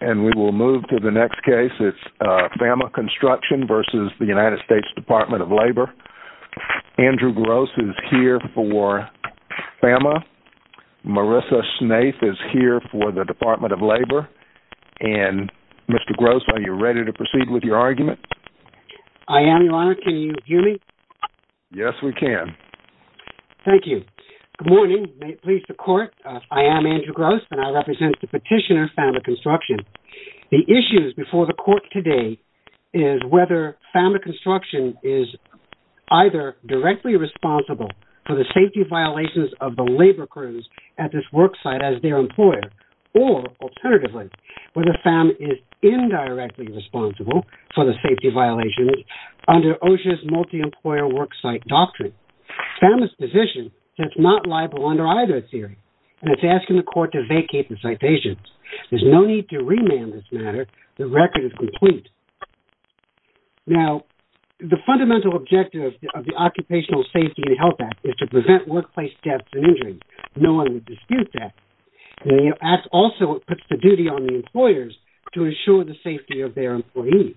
Andrew Gross is here for FAMA, Marissa Snaith is here for the Department of Labor, and Mr. Gross, are you ready to proceed with your argument? I am, Your Honor. Can you hear me? Yes, we can. Thank you. Good morning. Please, the Court, I am Andrew Gross, and I represent the petitioner, FAMA Construction. The issues before the Court today is whether FAMA Construction is either directly responsible for the safety violations of the labor crews at this worksite as their employer, or, alternatively, whether FAMA is indirectly responsible for the safety violations under OSHA's multi-employer worksite doctrine. FAMA's position says it's not liable under either theory, and it's asking the Court to vacate the citation. There's no need to remand this matter. The record is complete. Now, the fundamental objective of the Occupational Safety and Health Act is to prevent workplace deaths and injuries. No one would dispute that. The Act also puts the duty on the employers to ensure the safety of their employees.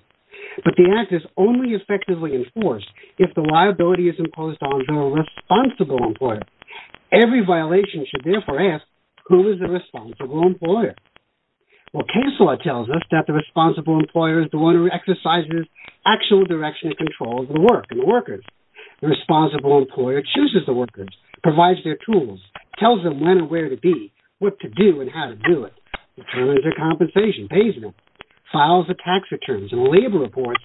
But the Act is only effectively enforced if the liability is imposed on the responsible employer. Every violation should therefore ask, who is the responsible employer? Well, K.S.L.A.W. tells us that the responsible employer is the one who exercises actual direction and control over the work and the workers. The responsible employer chooses the workers, provides their tools, tells them when and where to be, what to do and how to do it, determines their compensation, pays them, files the tax returns and labor reports,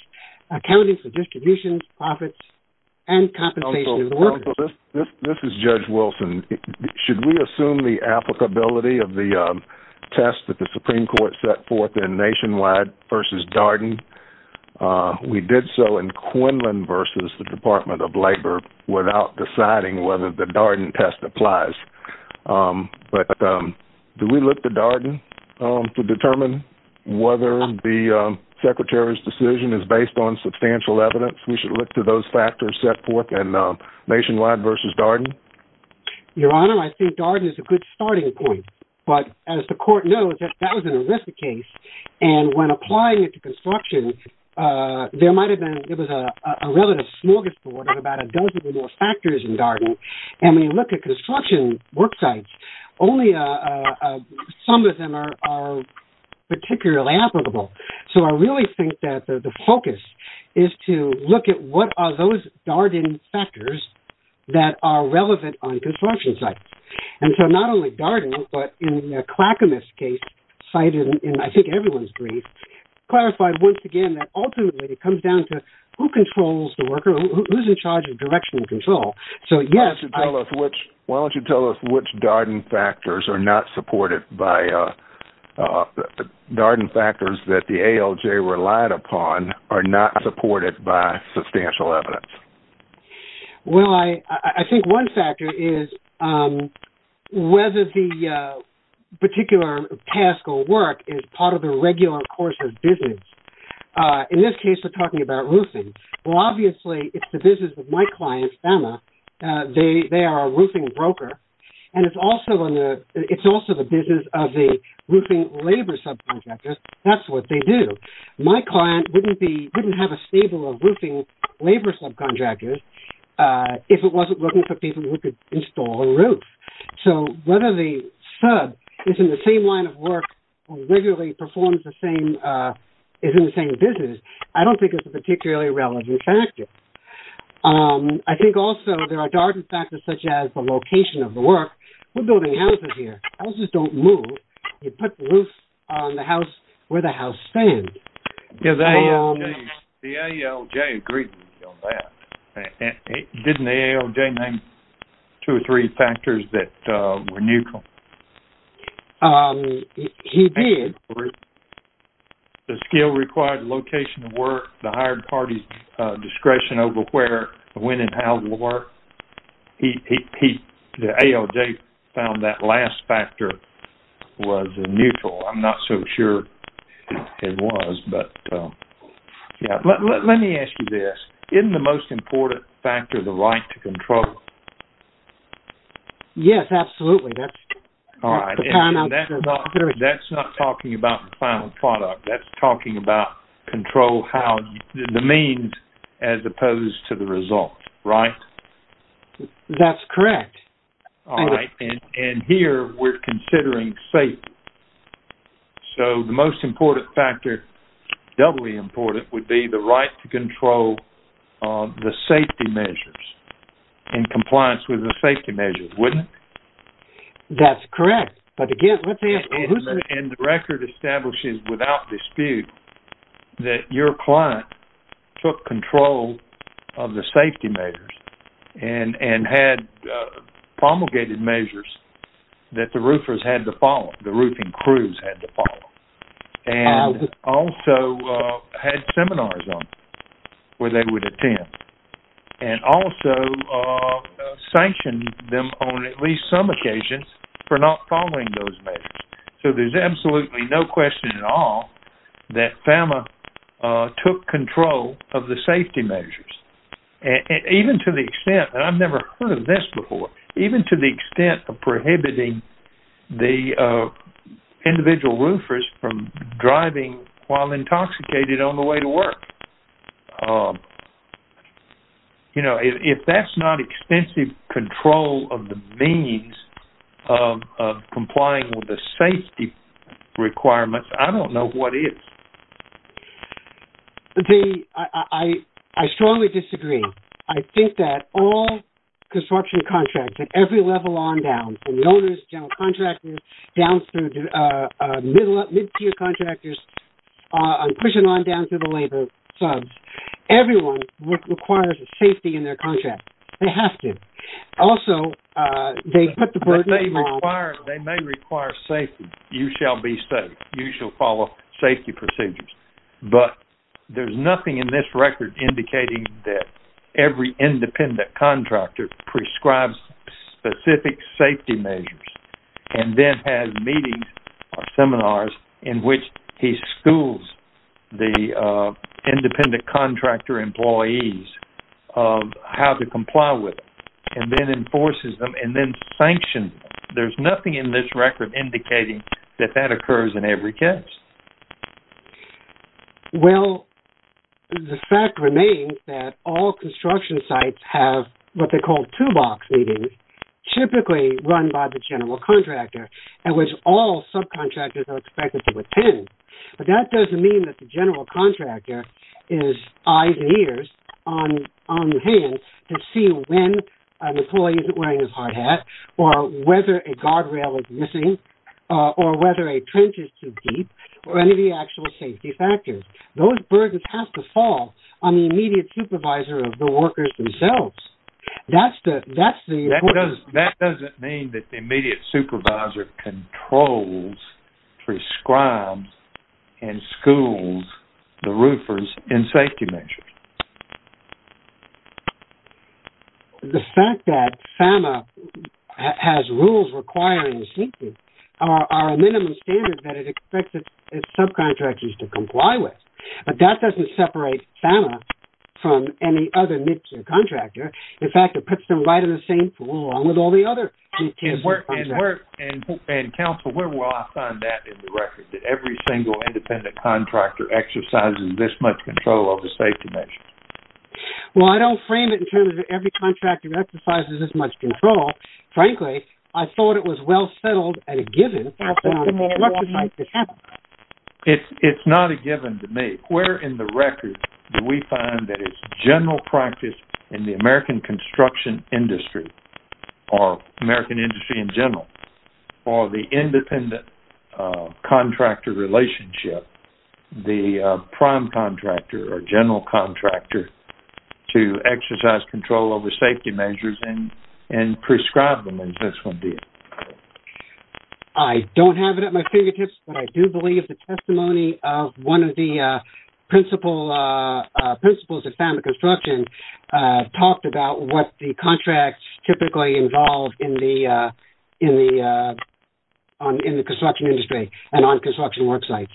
accounting for distribution, profits, and compensation of the workers. This is Judge Wilson. Should we assume the applicability of the test that the Supreme Court set forth in Nationwide v. Darden? We did so in Quinlan v. the Department of Labor without deciding whether the Darden test applies. But do we look to Darden to determine whether the Secretary's decision is based on substantial evidence? We should look to those factors set forth in Nationwide v. Darden? Your Honor, I think Darden is a good starting point. But as the Court knows, that was an illicit case. And when applying it to construction, there might have been, it was a relatively small disorder, about a dozen or more factors in Darden. And when you look at construction worksites, only some of them are particularly applicable. So I really think that the focus is to look at what are those Darden factors that are relevant on construction sites. And so not only Darden, but in the Clackamas case cited in, I think, everyone's brief, clarified once again that ultimately it comes down to who controls the worker, who's in charge of direction and control. Why don't you tell us which Darden factors are not supported by, Darden factors that the ALJ relied upon are not supported by substantial evidence? Well, I think one factor is whether the particular task or work is part of the regular course of business. In this case, we're talking about roofing. Well, obviously, it's the business of my client, FEMA. They are a roofing broker. And it's also the business of the roofing labor subcontractors. That's what they do. My client wouldn't have a stable of roofing labor subcontractors if it wasn't looking for people who could install a roof. So whether the sub is in the same line of work or regularly performs the same, is in the same business, I don't think it's a particularly relevant factor. I think also there are Darden factors such as the location of the work. We're building houses here. Houses don't move. You put the roof on the house where the house stands. The ALJ agreed on that. Didn't the ALJ name two or three factors that were neutral? He did. The skill required location of work, the hired party's discretion over where, when, and how to work. The ALJ found that last factor was neutral. I'm not so sure it was. Let me ask you this. Isn't the most important factor the right to control? Yes, absolutely. That's not talking about the final product. That's talking about control, the means as opposed to the result, right? That's correct. All right. And here we're considering safety. So the most important factor, doubly important, would be the right to control the safety measures in compliance with the safety measures, wouldn't it? That's correct. And the record establishes without dispute that your client took control of the safety measures and had promulgated measures that the roofers had to follow, the roofing crews had to follow, and also had seminars on where they would attend, and also sanctioned them on at least some occasions for not following those measures. So there's absolutely no question at all that FAMA took control of the safety measures. Even to the extent, and I've never heard of this before, even to the extent of prohibiting the individual roofers from driving while intoxicated on the way to work. You know, if that's not extensive control of the means of complying with the safety requirements, I don't know what is. I strongly disagree. I think that all construction contracts at every level on down, from the owners, general contractors, down through mid-tier contractors, pushing on down to the labor subs, everyone requires a safety in their contract. They have to. Also, they put the burden on... They may require safety. You shall be safe. You shall follow safety procedures. But there's nothing in this record indicating that every independent contractor prescribes specific safety measures, and then has meetings or seminars in which he schools the independent contractor employees of how to comply with it, and then enforces them, and then sanctions them. There's nothing in this record indicating that that occurs in every case. Well, the fact remains that all construction sites have what they call two-box meetings, typically run by the general contractor, in which all subcontractors are expected to attend. But that doesn't mean that the general contractor is eyes and ears on hand to see when an employee isn't wearing his hard hat, or whether a guardrail is missing, or whether a trench is too deep, or any of the actual safety factors. Those burdens have to fall on the immediate supervisor of the workers themselves. That doesn't mean that the immediate supervisor controls, prescribes, and schools the roofers in safety measures. The fact that FAMA has rules requiring safety are a minimum standard that it expects its subcontractors to comply with. But that doesn't separate FAMA from any other mid-tier contractor. In fact, it puts them right in the same pool along with all the other mid-tier subcontractors. And counsel, where will I find that in the record, that every single independent contractor exercises this much control over safety measures? Well, I don't frame it in terms of every contractor exercises this much control. Frankly, I thought it was well settled at a given. It's not a given to me. Where in the record do we find that it's general practice in the American construction industry, or American industry in general, for the independent contractor relationship, the prime contractor or general contractor, to exercise control over safety measures and prescribe them as this one did? I don't have it at my fingertips, but I do believe the testimony of one of the principals at FAMA Construction talked about what the contracts typically involve in the construction industry and on construction worksites.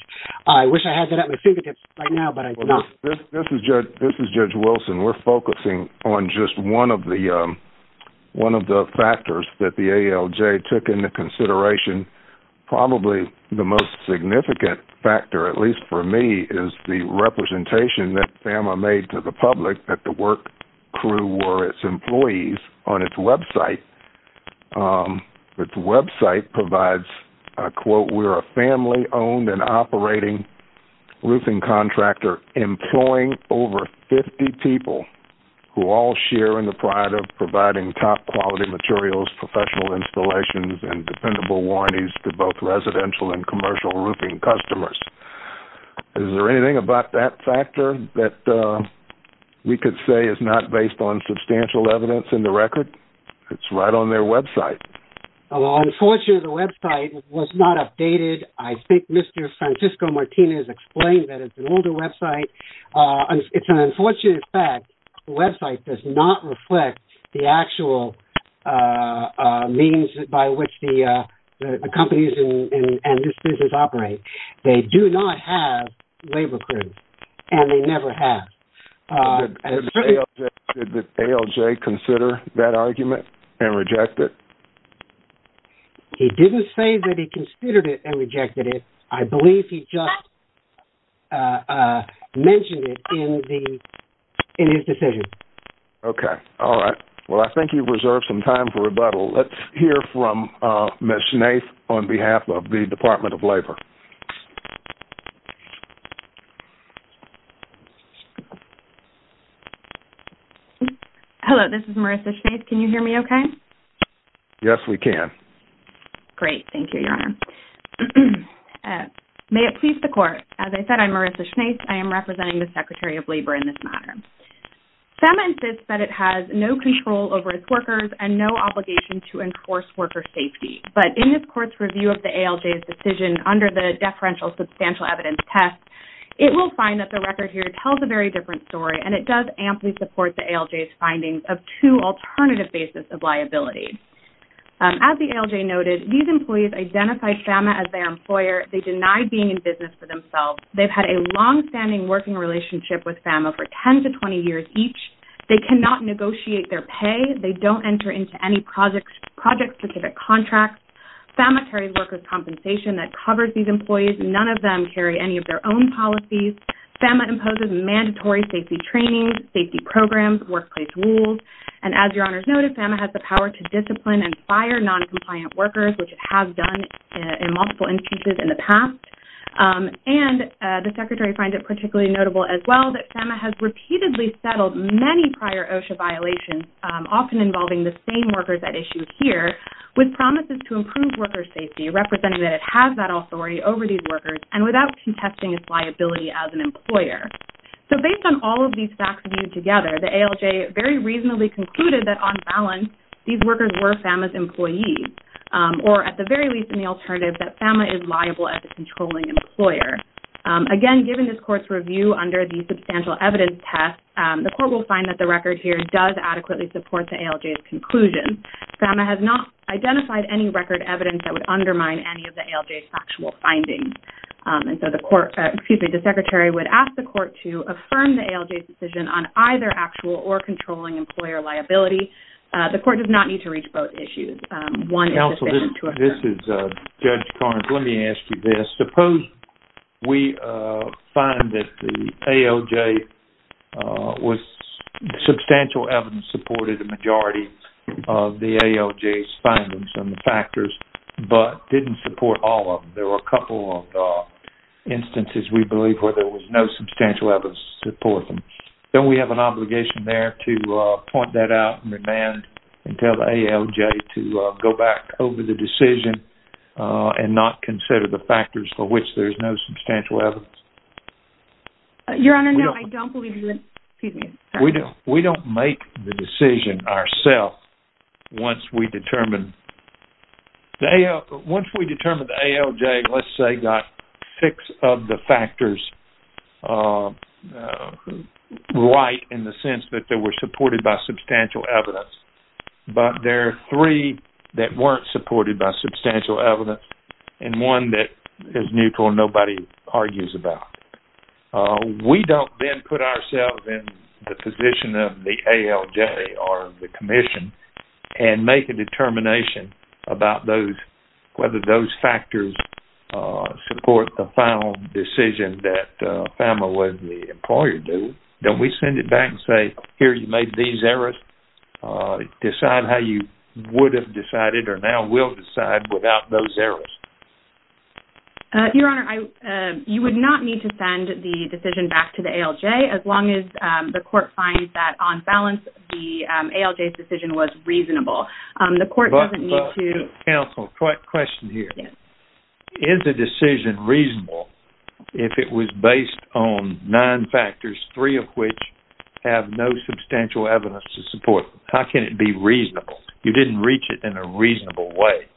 I wish I had that at my fingertips right now, but I'm not. This is Judge Wilson. We're focusing on just one of the factors that the ALJ took into consideration. Probably the most significant factor, at least for me, is the representation that FAMA made to the public that the work crew were its employees on its website. Its website provides, I quote, we're a family owned and operating roofing contractor employing over 50 people who all share in the pride of providing top quality materials, professional installations, and dependable warranties to both residential and commercial roofing customers. Is there anything about that factor that we could say is not based on substantial evidence in the record? It's right on their website. Unfortunately, the website was not updated. I think Mr. Francisco Martinez explained that it's an older website. It's an unfortunate fact. The website does not reflect the actual means by which the companies and this business operate. They do not have labor crews, and they never have. Did the ALJ consider that argument and reject it? He didn't say that he considered it and rejected it. I believe he just mentioned it in his decision. Okay. All right. Well, I think you've reserved some time for rebuttal. Let's hear from Ms. Nath on behalf of the Department of Labor. Hello. This is Marissa Schnaise. Can you hear me okay? Yes, we can. Great. Thank you, Your Honor. May it please the Court. As I said, I'm Marissa Schnaise. I am representing the Secretary of Labor in this matter. FEMA insists that it has no control over its workers and no obligation to enforce worker safety. But in this Court's review of the ALJ's decision under the deferential substantial evidence test, it will find that the record here tells a very different story, and it does amply support the ALJ's findings of two alternative bases of liability. As the ALJ noted, these employees identify FEMA as their employer. They deny being in business for themselves. They've had a longstanding working relationship with FEMA for 10 to 20 years each. They cannot negotiate their pay. They don't enter into any project-specific contracts. FEMA carries workers' compensation that covers these employees. None of them carry any of their own policies. FEMA imposes mandatory safety training, safety programs, workplace rules. And as Your Honor has noted, FEMA has the power to discipline and fire noncompliant workers, which it has done in multiple instances in the past. And the Secretary finds it particularly notable as well that FEMA has repeatedly settled many prior OSHA violations, often involving the same workers at issue here, with promises to improve workers' safety, representing that it has that authority over these workers, and without contesting its liability as an employer. So based on all of these facts viewed together, the ALJ very reasonably concluded that on balance these workers were FEMA's employees, or at the very least in the alternative that FEMA is liable as a controlling employer. Again, given this Court's review under the substantial evidence test, the Court will find that the record here does adequately support the ALJ's conclusion. FEMA has not identified any record evidence that would undermine any of the ALJ's factual findings. And so the Secretary would ask the Court to affirm the ALJ's decision on either actual or controlling employer liability. The Court does not need to reach both issues. Counsel, this is Judge Carnes. Let me ask you this. Suppose we find that the ALJ with substantial evidence supported the majority of the ALJ's findings and the factors, but didn't support all of them. There were a couple of instances, we believe, where there was no substantial evidence to support them. Don't we have an obligation there to point that out and demand and tell the ALJ to go back over the decision and not consider the factors for which there is no substantial evidence? Your Honor, no, I don't believe you would. We don't make the decision ourselves once we determine the ALJ, let's say, got six of the factors right in the sense that they were supported by substantial evidence. But there are three that weren't supported by substantial evidence and one that is neutral and nobody argues about. We don't then put ourselves in the position of the ALJ or the Commission and make a determination about whether those factors support the final decision that FAMA and the employer do. Don't we send it back and say, here, you made these errors. Decide how you would have decided or now will decide without those errors. Your Honor, you would not need to send the decision back to the ALJ as long as the court finds that on balance the ALJ's decision was reasonable. Counsel, quick question here. Is the decision reasonable if it was based on nine factors, three of which have no substantial evidence to support them? How can it be reasonable? You didn't reach it in a reasonable way.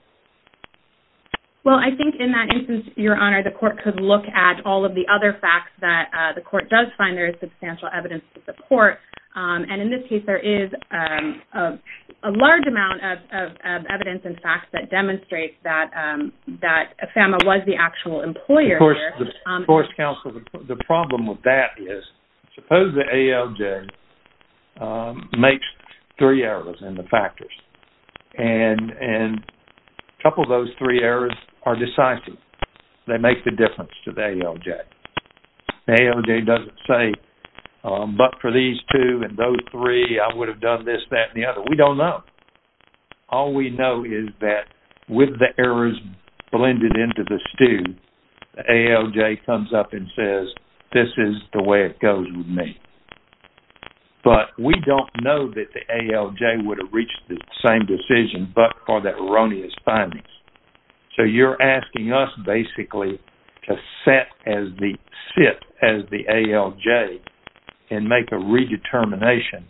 Well, I think in that instance, Your Honor, the court could look at all of the other facts that the court does find there is substantial evidence to support. In this case, there is a large amount of evidence and facts that demonstrate that FAMA was the actual employer. Of course, counsel, the problem with that is, suppose the ALJ makes three errors in the factors. A couple of those three errors are decisive. They make the difference to the ALJ. The ALJ doesn't say, but for these two and those three, I would have done this, that, and the other. We don't know. All we know is that with the errors blended into the stew, the ALJ comes up and says, this is the way it goes with me. But we don't know that the ALJ would have reached the same decision but for the erroneous findings. So you're asking us, basically, to sit as the ALJ and make a redetermination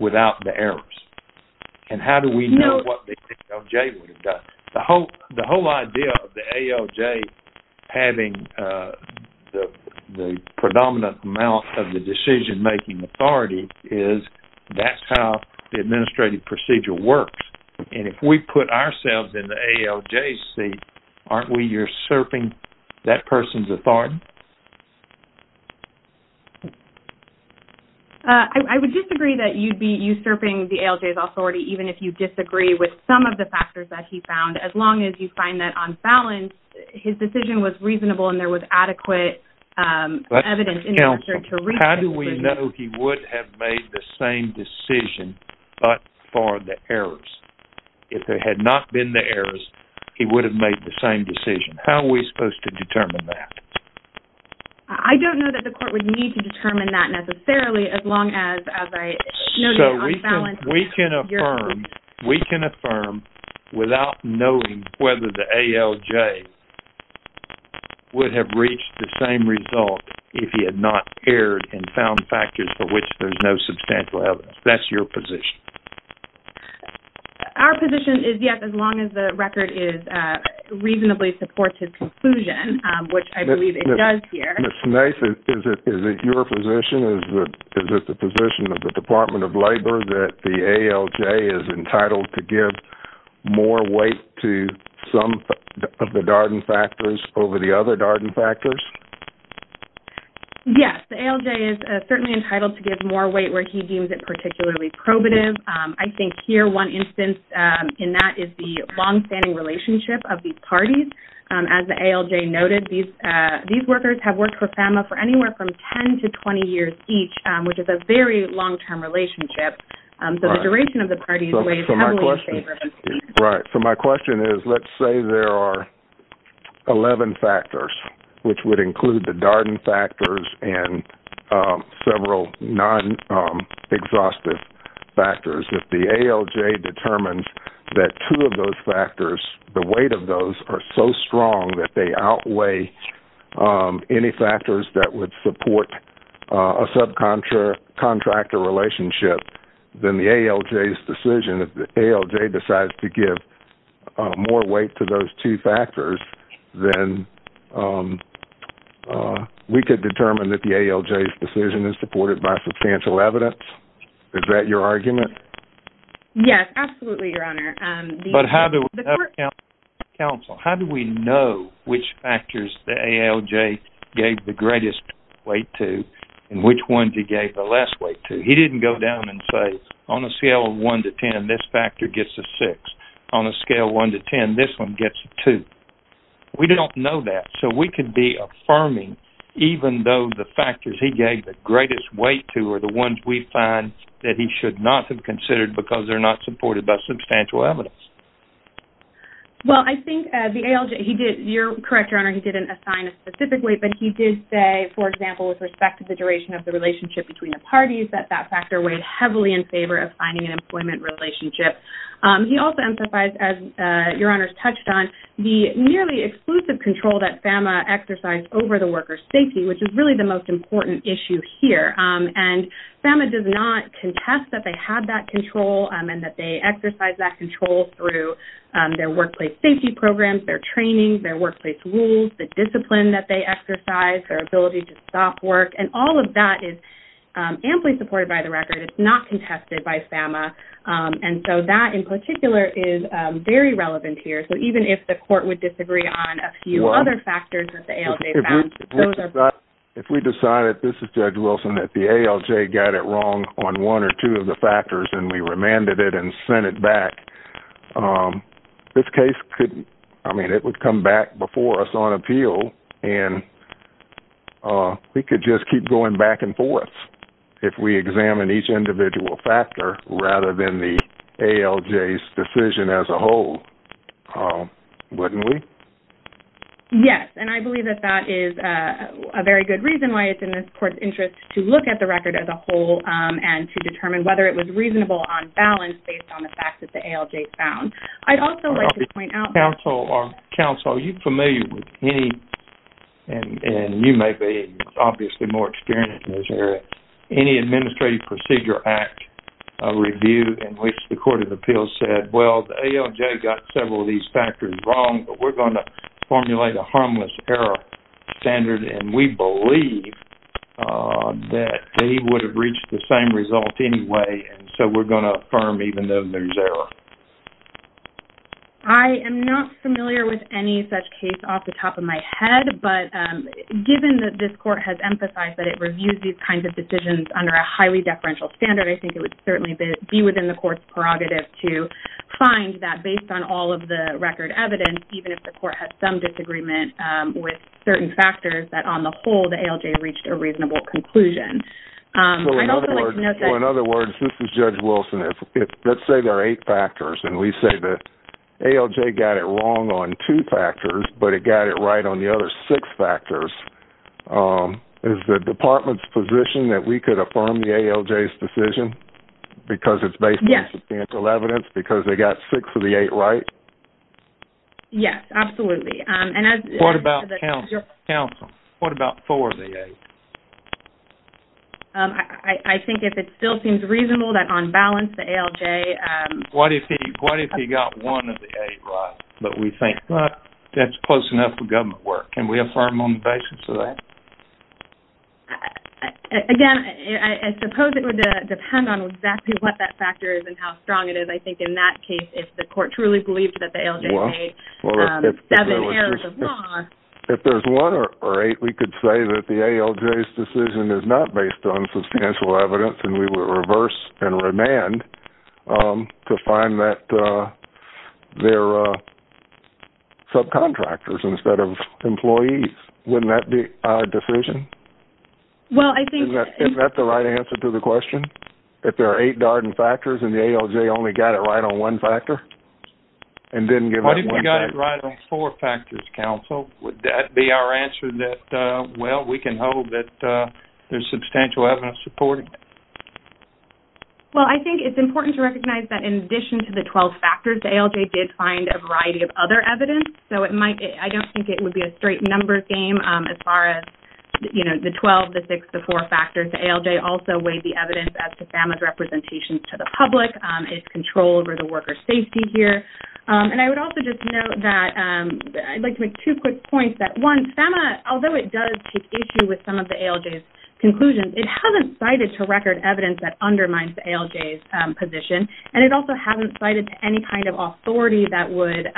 without the errors. And how do we know what the ALJ would have done? The whole idea of the ALJ having the predominant amount of the decision-making authority is that's how the administrative procedure works. And if we put ourselves in the ALJ's seat, aren't we usurping that person's authority? I would disagree that you'd be usurping the ALJ's authority, even if you disagree with some of the factors that he found, as long as you find that, on balance, his decision was reasonable and there was adequate evidence in order to reach it. How do we know he would have made the same decision but for the errors? If there had not been the errors, he would have made the same decision. How are we supposed to determine that? I don't know that the court would need to determine that, necessarily, as long as... We can affirm without knowing whether the ALJ would have reached the same result if he had not erred and found factors for which there's no substantial evidence. That's your position. Our position is, yes, as long as the record reasonably supports his conclusion, which I believe it does here. Ms. Nace, is it your position, is it the position of the Department of Labor, that the ALJ is entitled to give more weight to some of the Darden factors over the other Darden factors? Yes, the ALJ is certainly entitled to give more weight where he deems it particularly probative. I think, here, one instance in that is the long-standing relationship of these parties. As the ALJ noted, these workers have worked for FAMA for anywhere from 10 to 20 years each, which is a very long-term relationship, so the duration of the parties weighs heavily in favor. Right. So my question is, let's say there are 11 factors, which would include the Darden factors and several non-exhaustive factors. If the ALJ determines that two of those factors, the weight of those, are so strong that they outweigh any factors that would support a subcontractor relationship, then the ALJ's decision, if the ALJ decides to give more weight to those two factors, then we could determine that the ALJ's decision is supported by substantial evidence? Is that your argument? Yes, absolutely, Your Honor. But how do we know which factors the ALJ gave the greatest weight to and which ones he gave the less weight to? He didn't go down and say, on a scale of 1 to 10, this factor gets a 6. On a scale of 1 to 10, this one gets a 2. We don't know that, so we could be affirming, even though the factors he gave the greatest weight to are the ones we find that he should not have considered because they're not supported by substantial evidence. Well, I think the ALJ, he did, you're correct, Your Honor, he didn't assign a specific weight, but he did say, for example, with respect to the duration of the relationship between the parties, that that factor weighed heavily in favor of finding an employment relationship. He also emphasized, as Your Honors touched on, the nearly exclusive control that FAMA exercised over the workers' safety, which is really the most important issue here. And FAMA does not contest that they have that control and that they exercise that control through their workplace safety programs, their training, their workplace rules, the discipline that they exercise, their ability to stop work, and all of that is amply supported by the record. It's not contested by FAMA. And so that, in particular, is very relevant here. So even if the court would disagree on a few other factors that the ALJ found, those are both... If we decided, this is Judge Wilson, that the ALJ got it wrong on one or two of the factors and we remanded it and sent it back, this case could, I mean, it would come back before us on appeal and we could just keep going back and forth if we examine each individual factor rather than the ALJ's decision as a whole. Wouldn't we? Yes, and I believe that that is a very good reason why it's in this court's interest to look at the record as a whole and to determine whether it was reasonable on balance based on the facts that the ALJ found. I'd also like to point out... Counsel, are you familiar with any, and you may be obviously more experienced in this area, any Administrative Procedure Act review in which the Court of Appeals said, well, the ALJ got several of these factors wrong, but we're going to formulate a harmless error standard and we believe that he would have reached the same result anyway and so we're going to affirm even though there's error. I am not familiar with any such case off the top of my head, but given that this Court has emphasized that it reviews these kinds of decisions under a highly deferential standard, I think it would certainly be within the Court's prerogative to find that based on all of the record evidence, even if the Court has some disagreement with certain factors, that on the whole the ALJ reached a reasonable conclusion. I'd also like to note that... So, in other words, this is Judge Wilson. Let's say there are eight factors and we say the ALJ got it wrong on two factors, but it got it right on the other six factors. Is the Department's position that we could affirm the ALJ's decision? Because it's based on substantial evidence? Yes. Because they got six of the eight right? Yes, absolutely. What about counsel? What about four of the eight? I think if it still seems reasonable that on balance the ALJ... What if he got one of the eight right, but we think that's close enough for government work? Can we affirm on the basis of that? Again, I suppose it would depend on exactly what that factor is and how strong it is. I think in that case, if the Court truly believed that the ALJ made seven errors of law... If there's one or eight, we could say that the ALJ's decision is not based on substantial evidence and we would reverse and remand to find that they're subcontractors instead of employees. Wouldn't that be our decision? Well, I think... Isn't that the right answer to the question? If there are eight Darden factors and the ALJ only got it right on one factor and didn't give up one factor? What if we got it right on four factors, counsel? Would that be our answer that, well, we can hold that there's substantial evidence supporting? Well, I think it's important to recognize that in addition to the 12 factors, the ALJ did find a variety of other evidence. So it might... I don't think it would be a straight numbers game as far as the 12, the six, the four factors. The ALJ also weighed the evidence as to FAMA's representation to the public. It's control over the worker's safety here. And I would also just note that... I'd like to make two quick points that, one, FAMA, although it does take issue with some of the ALJ's conclusions, it hasn't cited to record evidence that undermines the ALJ's position and it also hasn't cited any kind of authority that would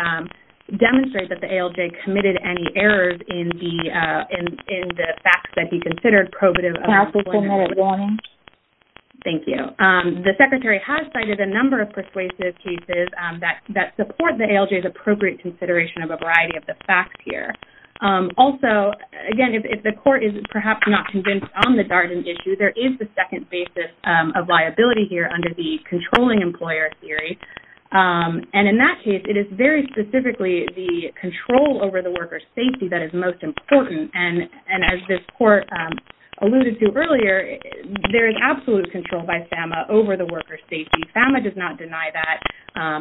demonstrate that the ALJ committed any errors in the facts that he considered probative. Counsel, one more warning. Thank you. The secretary has cited a number of persuasive cases that support the ALJ's appropriate consideration of a variety of the facts here. Also, again, if the court is perhaps not convinced on the Darden issue, there is the second basis of liability here under the controlling employer theory. And in that case, it is very specifically the control over the worker's safety that is most important. And as this court alluded to earlier, there is absolute control by FAMA over the worker's safety. FAMA does not deny that.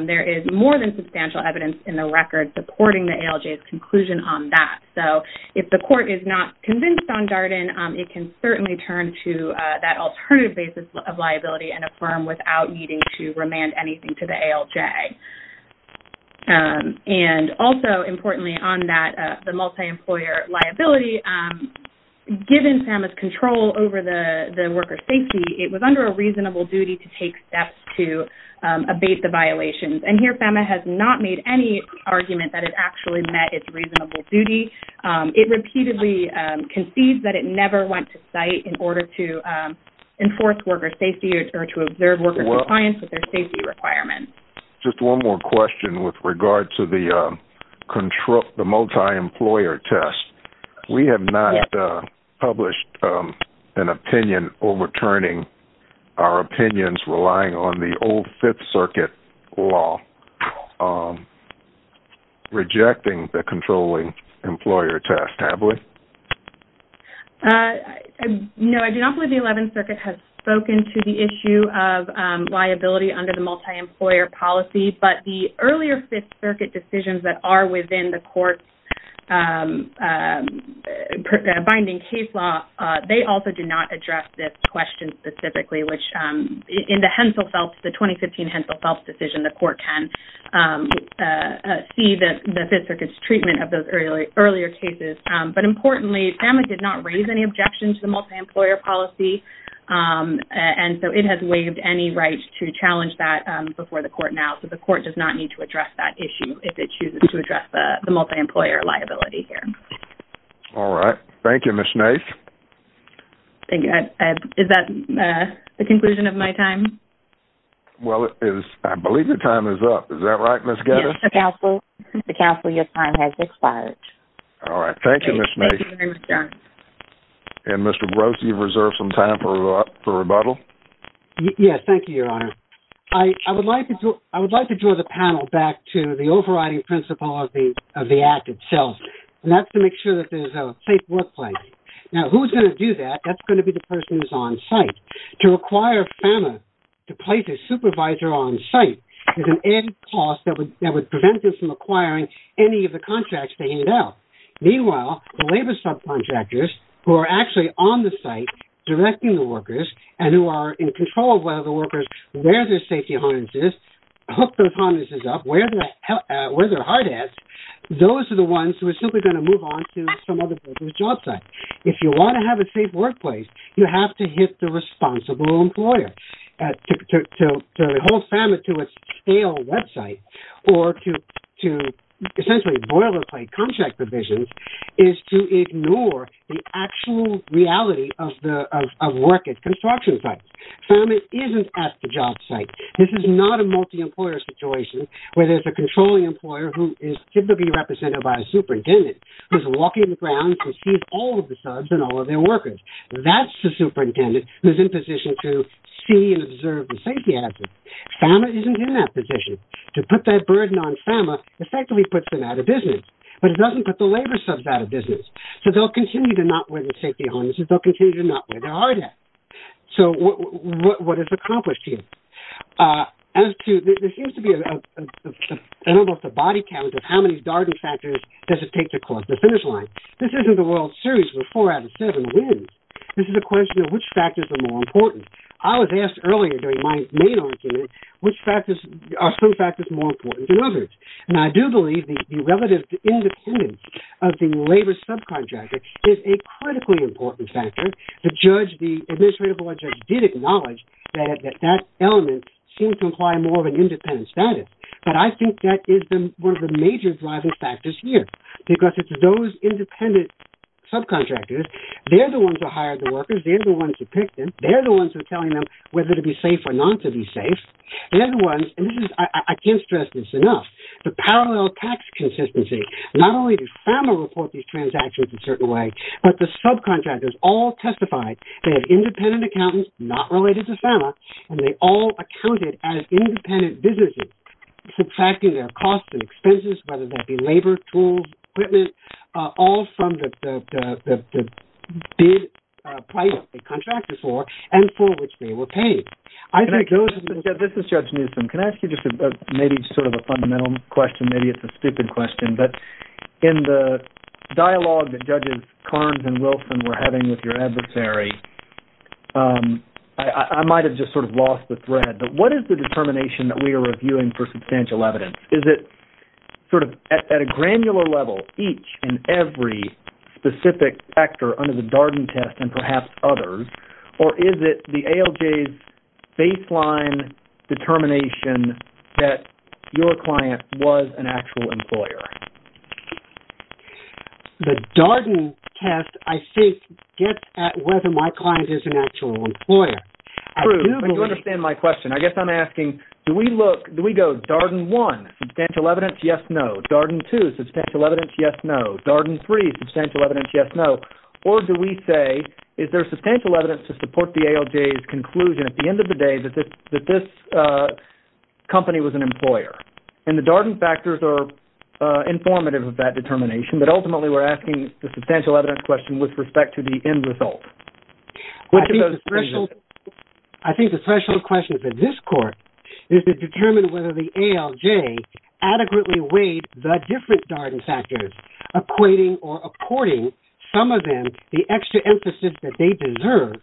There is more than substantial evidence in the record supporting the ALJ's conclusion on that. So if the court is not convinced on Darden, it can certainly turn to that alternative basis of liability in a firm without needing to remand anything to the ALJ. And also, importantly on that, the multi-employer liability, given FAMA's control over the worker's safety, it was under a reasonable duty to take steps to abate the violations. And here, FAMA has not made any argument that it actually met its reasonable duty. It repeatedly concedes that it never went to site in order to enforce worker safety or to observe worker compliance with their safety requirements. Just one more question with regard to the multi-employer test. We have not published an opinion overturning our opinions relying on the old Fifth Circuit law rejecting the controlling employer test, have we? No, I do not believe the Eleventh Circuit has spoken to the issue of liability under the multi-employer policy. But the earlier Fifth Circuit decisions that are within the court's binding case law, they also do not address this question specifically, which in the 2015 Hensel Phelps decision, the court can see the Fifth Circuit's treatment of those earlier cases. But importantly, FAMA did not raise any objection to the multi-employer policy, and so it has waived any right to challenge that before the court now. So the court does not need to address that issue if it chooses to address the multi-employer liability here. All right. Thank you, Ms. Nace. Is that the conclusion of my time? Well, I believe your time is up. Is that right, Ms. Geddes? Yes, Mr. Counsel, your time has expired. All right. Thank you, Ms. Nace. And Mr. Gross, do you reserve some time for rebuttal? Yes. Thank you, Your Honor. I would like to draw the panel back to the overriding principle of the Act itself, and that's to make sure that there's a safe workplace. Now, who's going to do that? That's going to be the person who's on site. To require FAMA to place a supervisor on site is an added cost that would prevent them from acquiring any of the contracts they need now. Meanwhile, the labor subcontractors who are actually on the site directing the workers and who are in control of whether the workers wear their safety harnesses, hook those harnesses up, wear their hard hats, those are the ones who are simply going to move on to some other person's job site. If you want to have a safe workplace, you have to hit the responsible employer to hold FAMA to its stale website or to essentially boilerplate contract provisions is to ignore the actual reality of work at construction sites. FAMA isn't at the job site. This is not a multi-employer situation where there's a controlling employer who is typically represented by a superintendent who's walking the grounds and sees all of the subs and all of their workers. That's the superintendent who's in position to see and observe the safety hazards. FAMA isn't in that position to put that burden on FAMA effectively puts them out of business. But it doesn't put the labor subs out of business. So they'll continue to not wear their safety harnesses. They'll continue to not wear their hard hats. So what is accomplished here? As to, there seems to be an almost a body count of how many Darden factors does it take to close the finish line. This isn't a World Series with four out of seven wins. This is a question of which factors are more important. I was asked earlier during my main argument which factors are some factors more important than others. And I do believe the relative independence of the labor subcontractor is a critically important factor. The judge, the administrative law judge did acknowledge that that element seemed to imply more of an independent status. But I think that is one of the major driving factors here because it's those independent subcontractors. They're the ones who hire the workers. They're the ones who pick them. They're the ones who are telling them whether to be safe or not to be safe. They're the ones, and I can't stress this enough, the parallel tax consistency. Not only does FAMA report these transactions a certain way, but the subcontractors all testified that independent accountants, not related to FAMA, and they all accounted as independent businesses subtracting their costs and expenses, whether that be labor, tools, equipment, all from the bid price the contractor's for and for which they were paid. This is Judge Newsom. Can I ask you just maybe sort of a fundamental question? Maybe it's a stupid question, but in the dialogue that Judges Carnes and Wilson were having with your adversary, I might have just sort of lost the thread, but what is the determination that we are reviewing for substantial evidence? Is it sort of at a granular level, each and every specific actor under the Darden test and perhaps others, or is it the ALJ's baseline determination that your client was an actual employer? The Darden test, I think, gets at whether my client is an actual employer. I do believe... You understand my question. I guess I'm asking, do we go Darden 1, substantial evidence, yes, no? Darden 2, substantial evidence, yes, no? Darden 3, substantial evidence, yes, no? Or do we say, is there substantial evidence to support the ALJ's conclusion at the end of the day that this company was an employer? And the Darden factors are informative of that determination, but ultimately we're asking the substantial evidence question with respect to the end result. I think the threshold question for this court is to determine whether the ALJ adequately weighed the different Darden factors, equating or according some of them the extra emphasis that they deserve,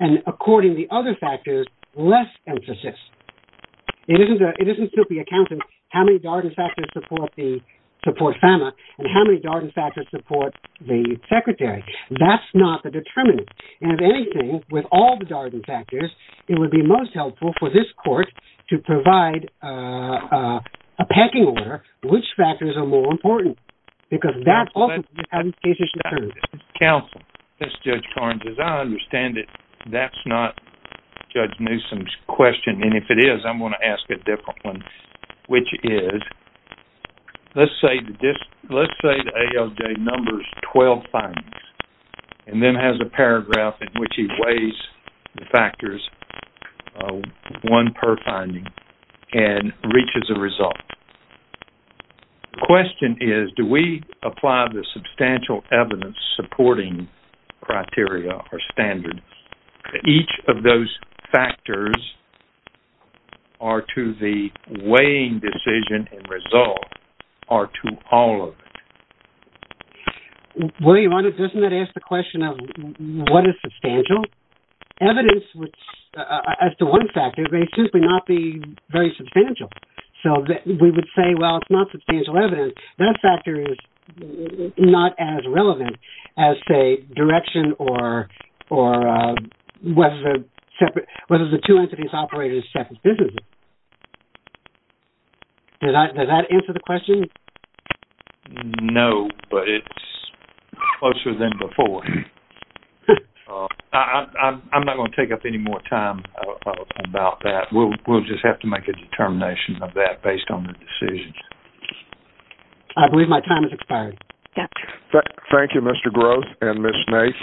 and according the other factors, less emphasis. It isn't simply accounting how many Darden factors support FAMA and how many Darden factors support the secretary. That's not the determinant. And if anything, with all the Darden factors, it would be most helpful for this court to provide a pecking order which factors are more important. Because that also has cases to serve. Counsel, this is Judge Carnes. As I understand it, that's not Judge Newsom's question. And if it is, I'm going to ask a different one, which is, let's say the ALJ numbers 12 findings and then has a paragraph in which he weighs the factors, one per finding, and reaches a result. The question is, do we apply the substantial evidence-supporting criteria or standards that each of those factors are to the weighing decision and result or to all of it? William, doesn't that ask the question of what is substantial? Evidence, as to one factor, may simply not be very substantial. So we would say, well, it's not substantial evidence. That factor is not as relevant as, say, direction or whether the two entities operated as separate businesses. Does that answer the question? No, but it's closer than before. I'm not going to take up any more time about that. We'll just have to make a determination of that based on the decisions. I believe my time has expired. Thank you, Mr. Groves and Ms. Nath.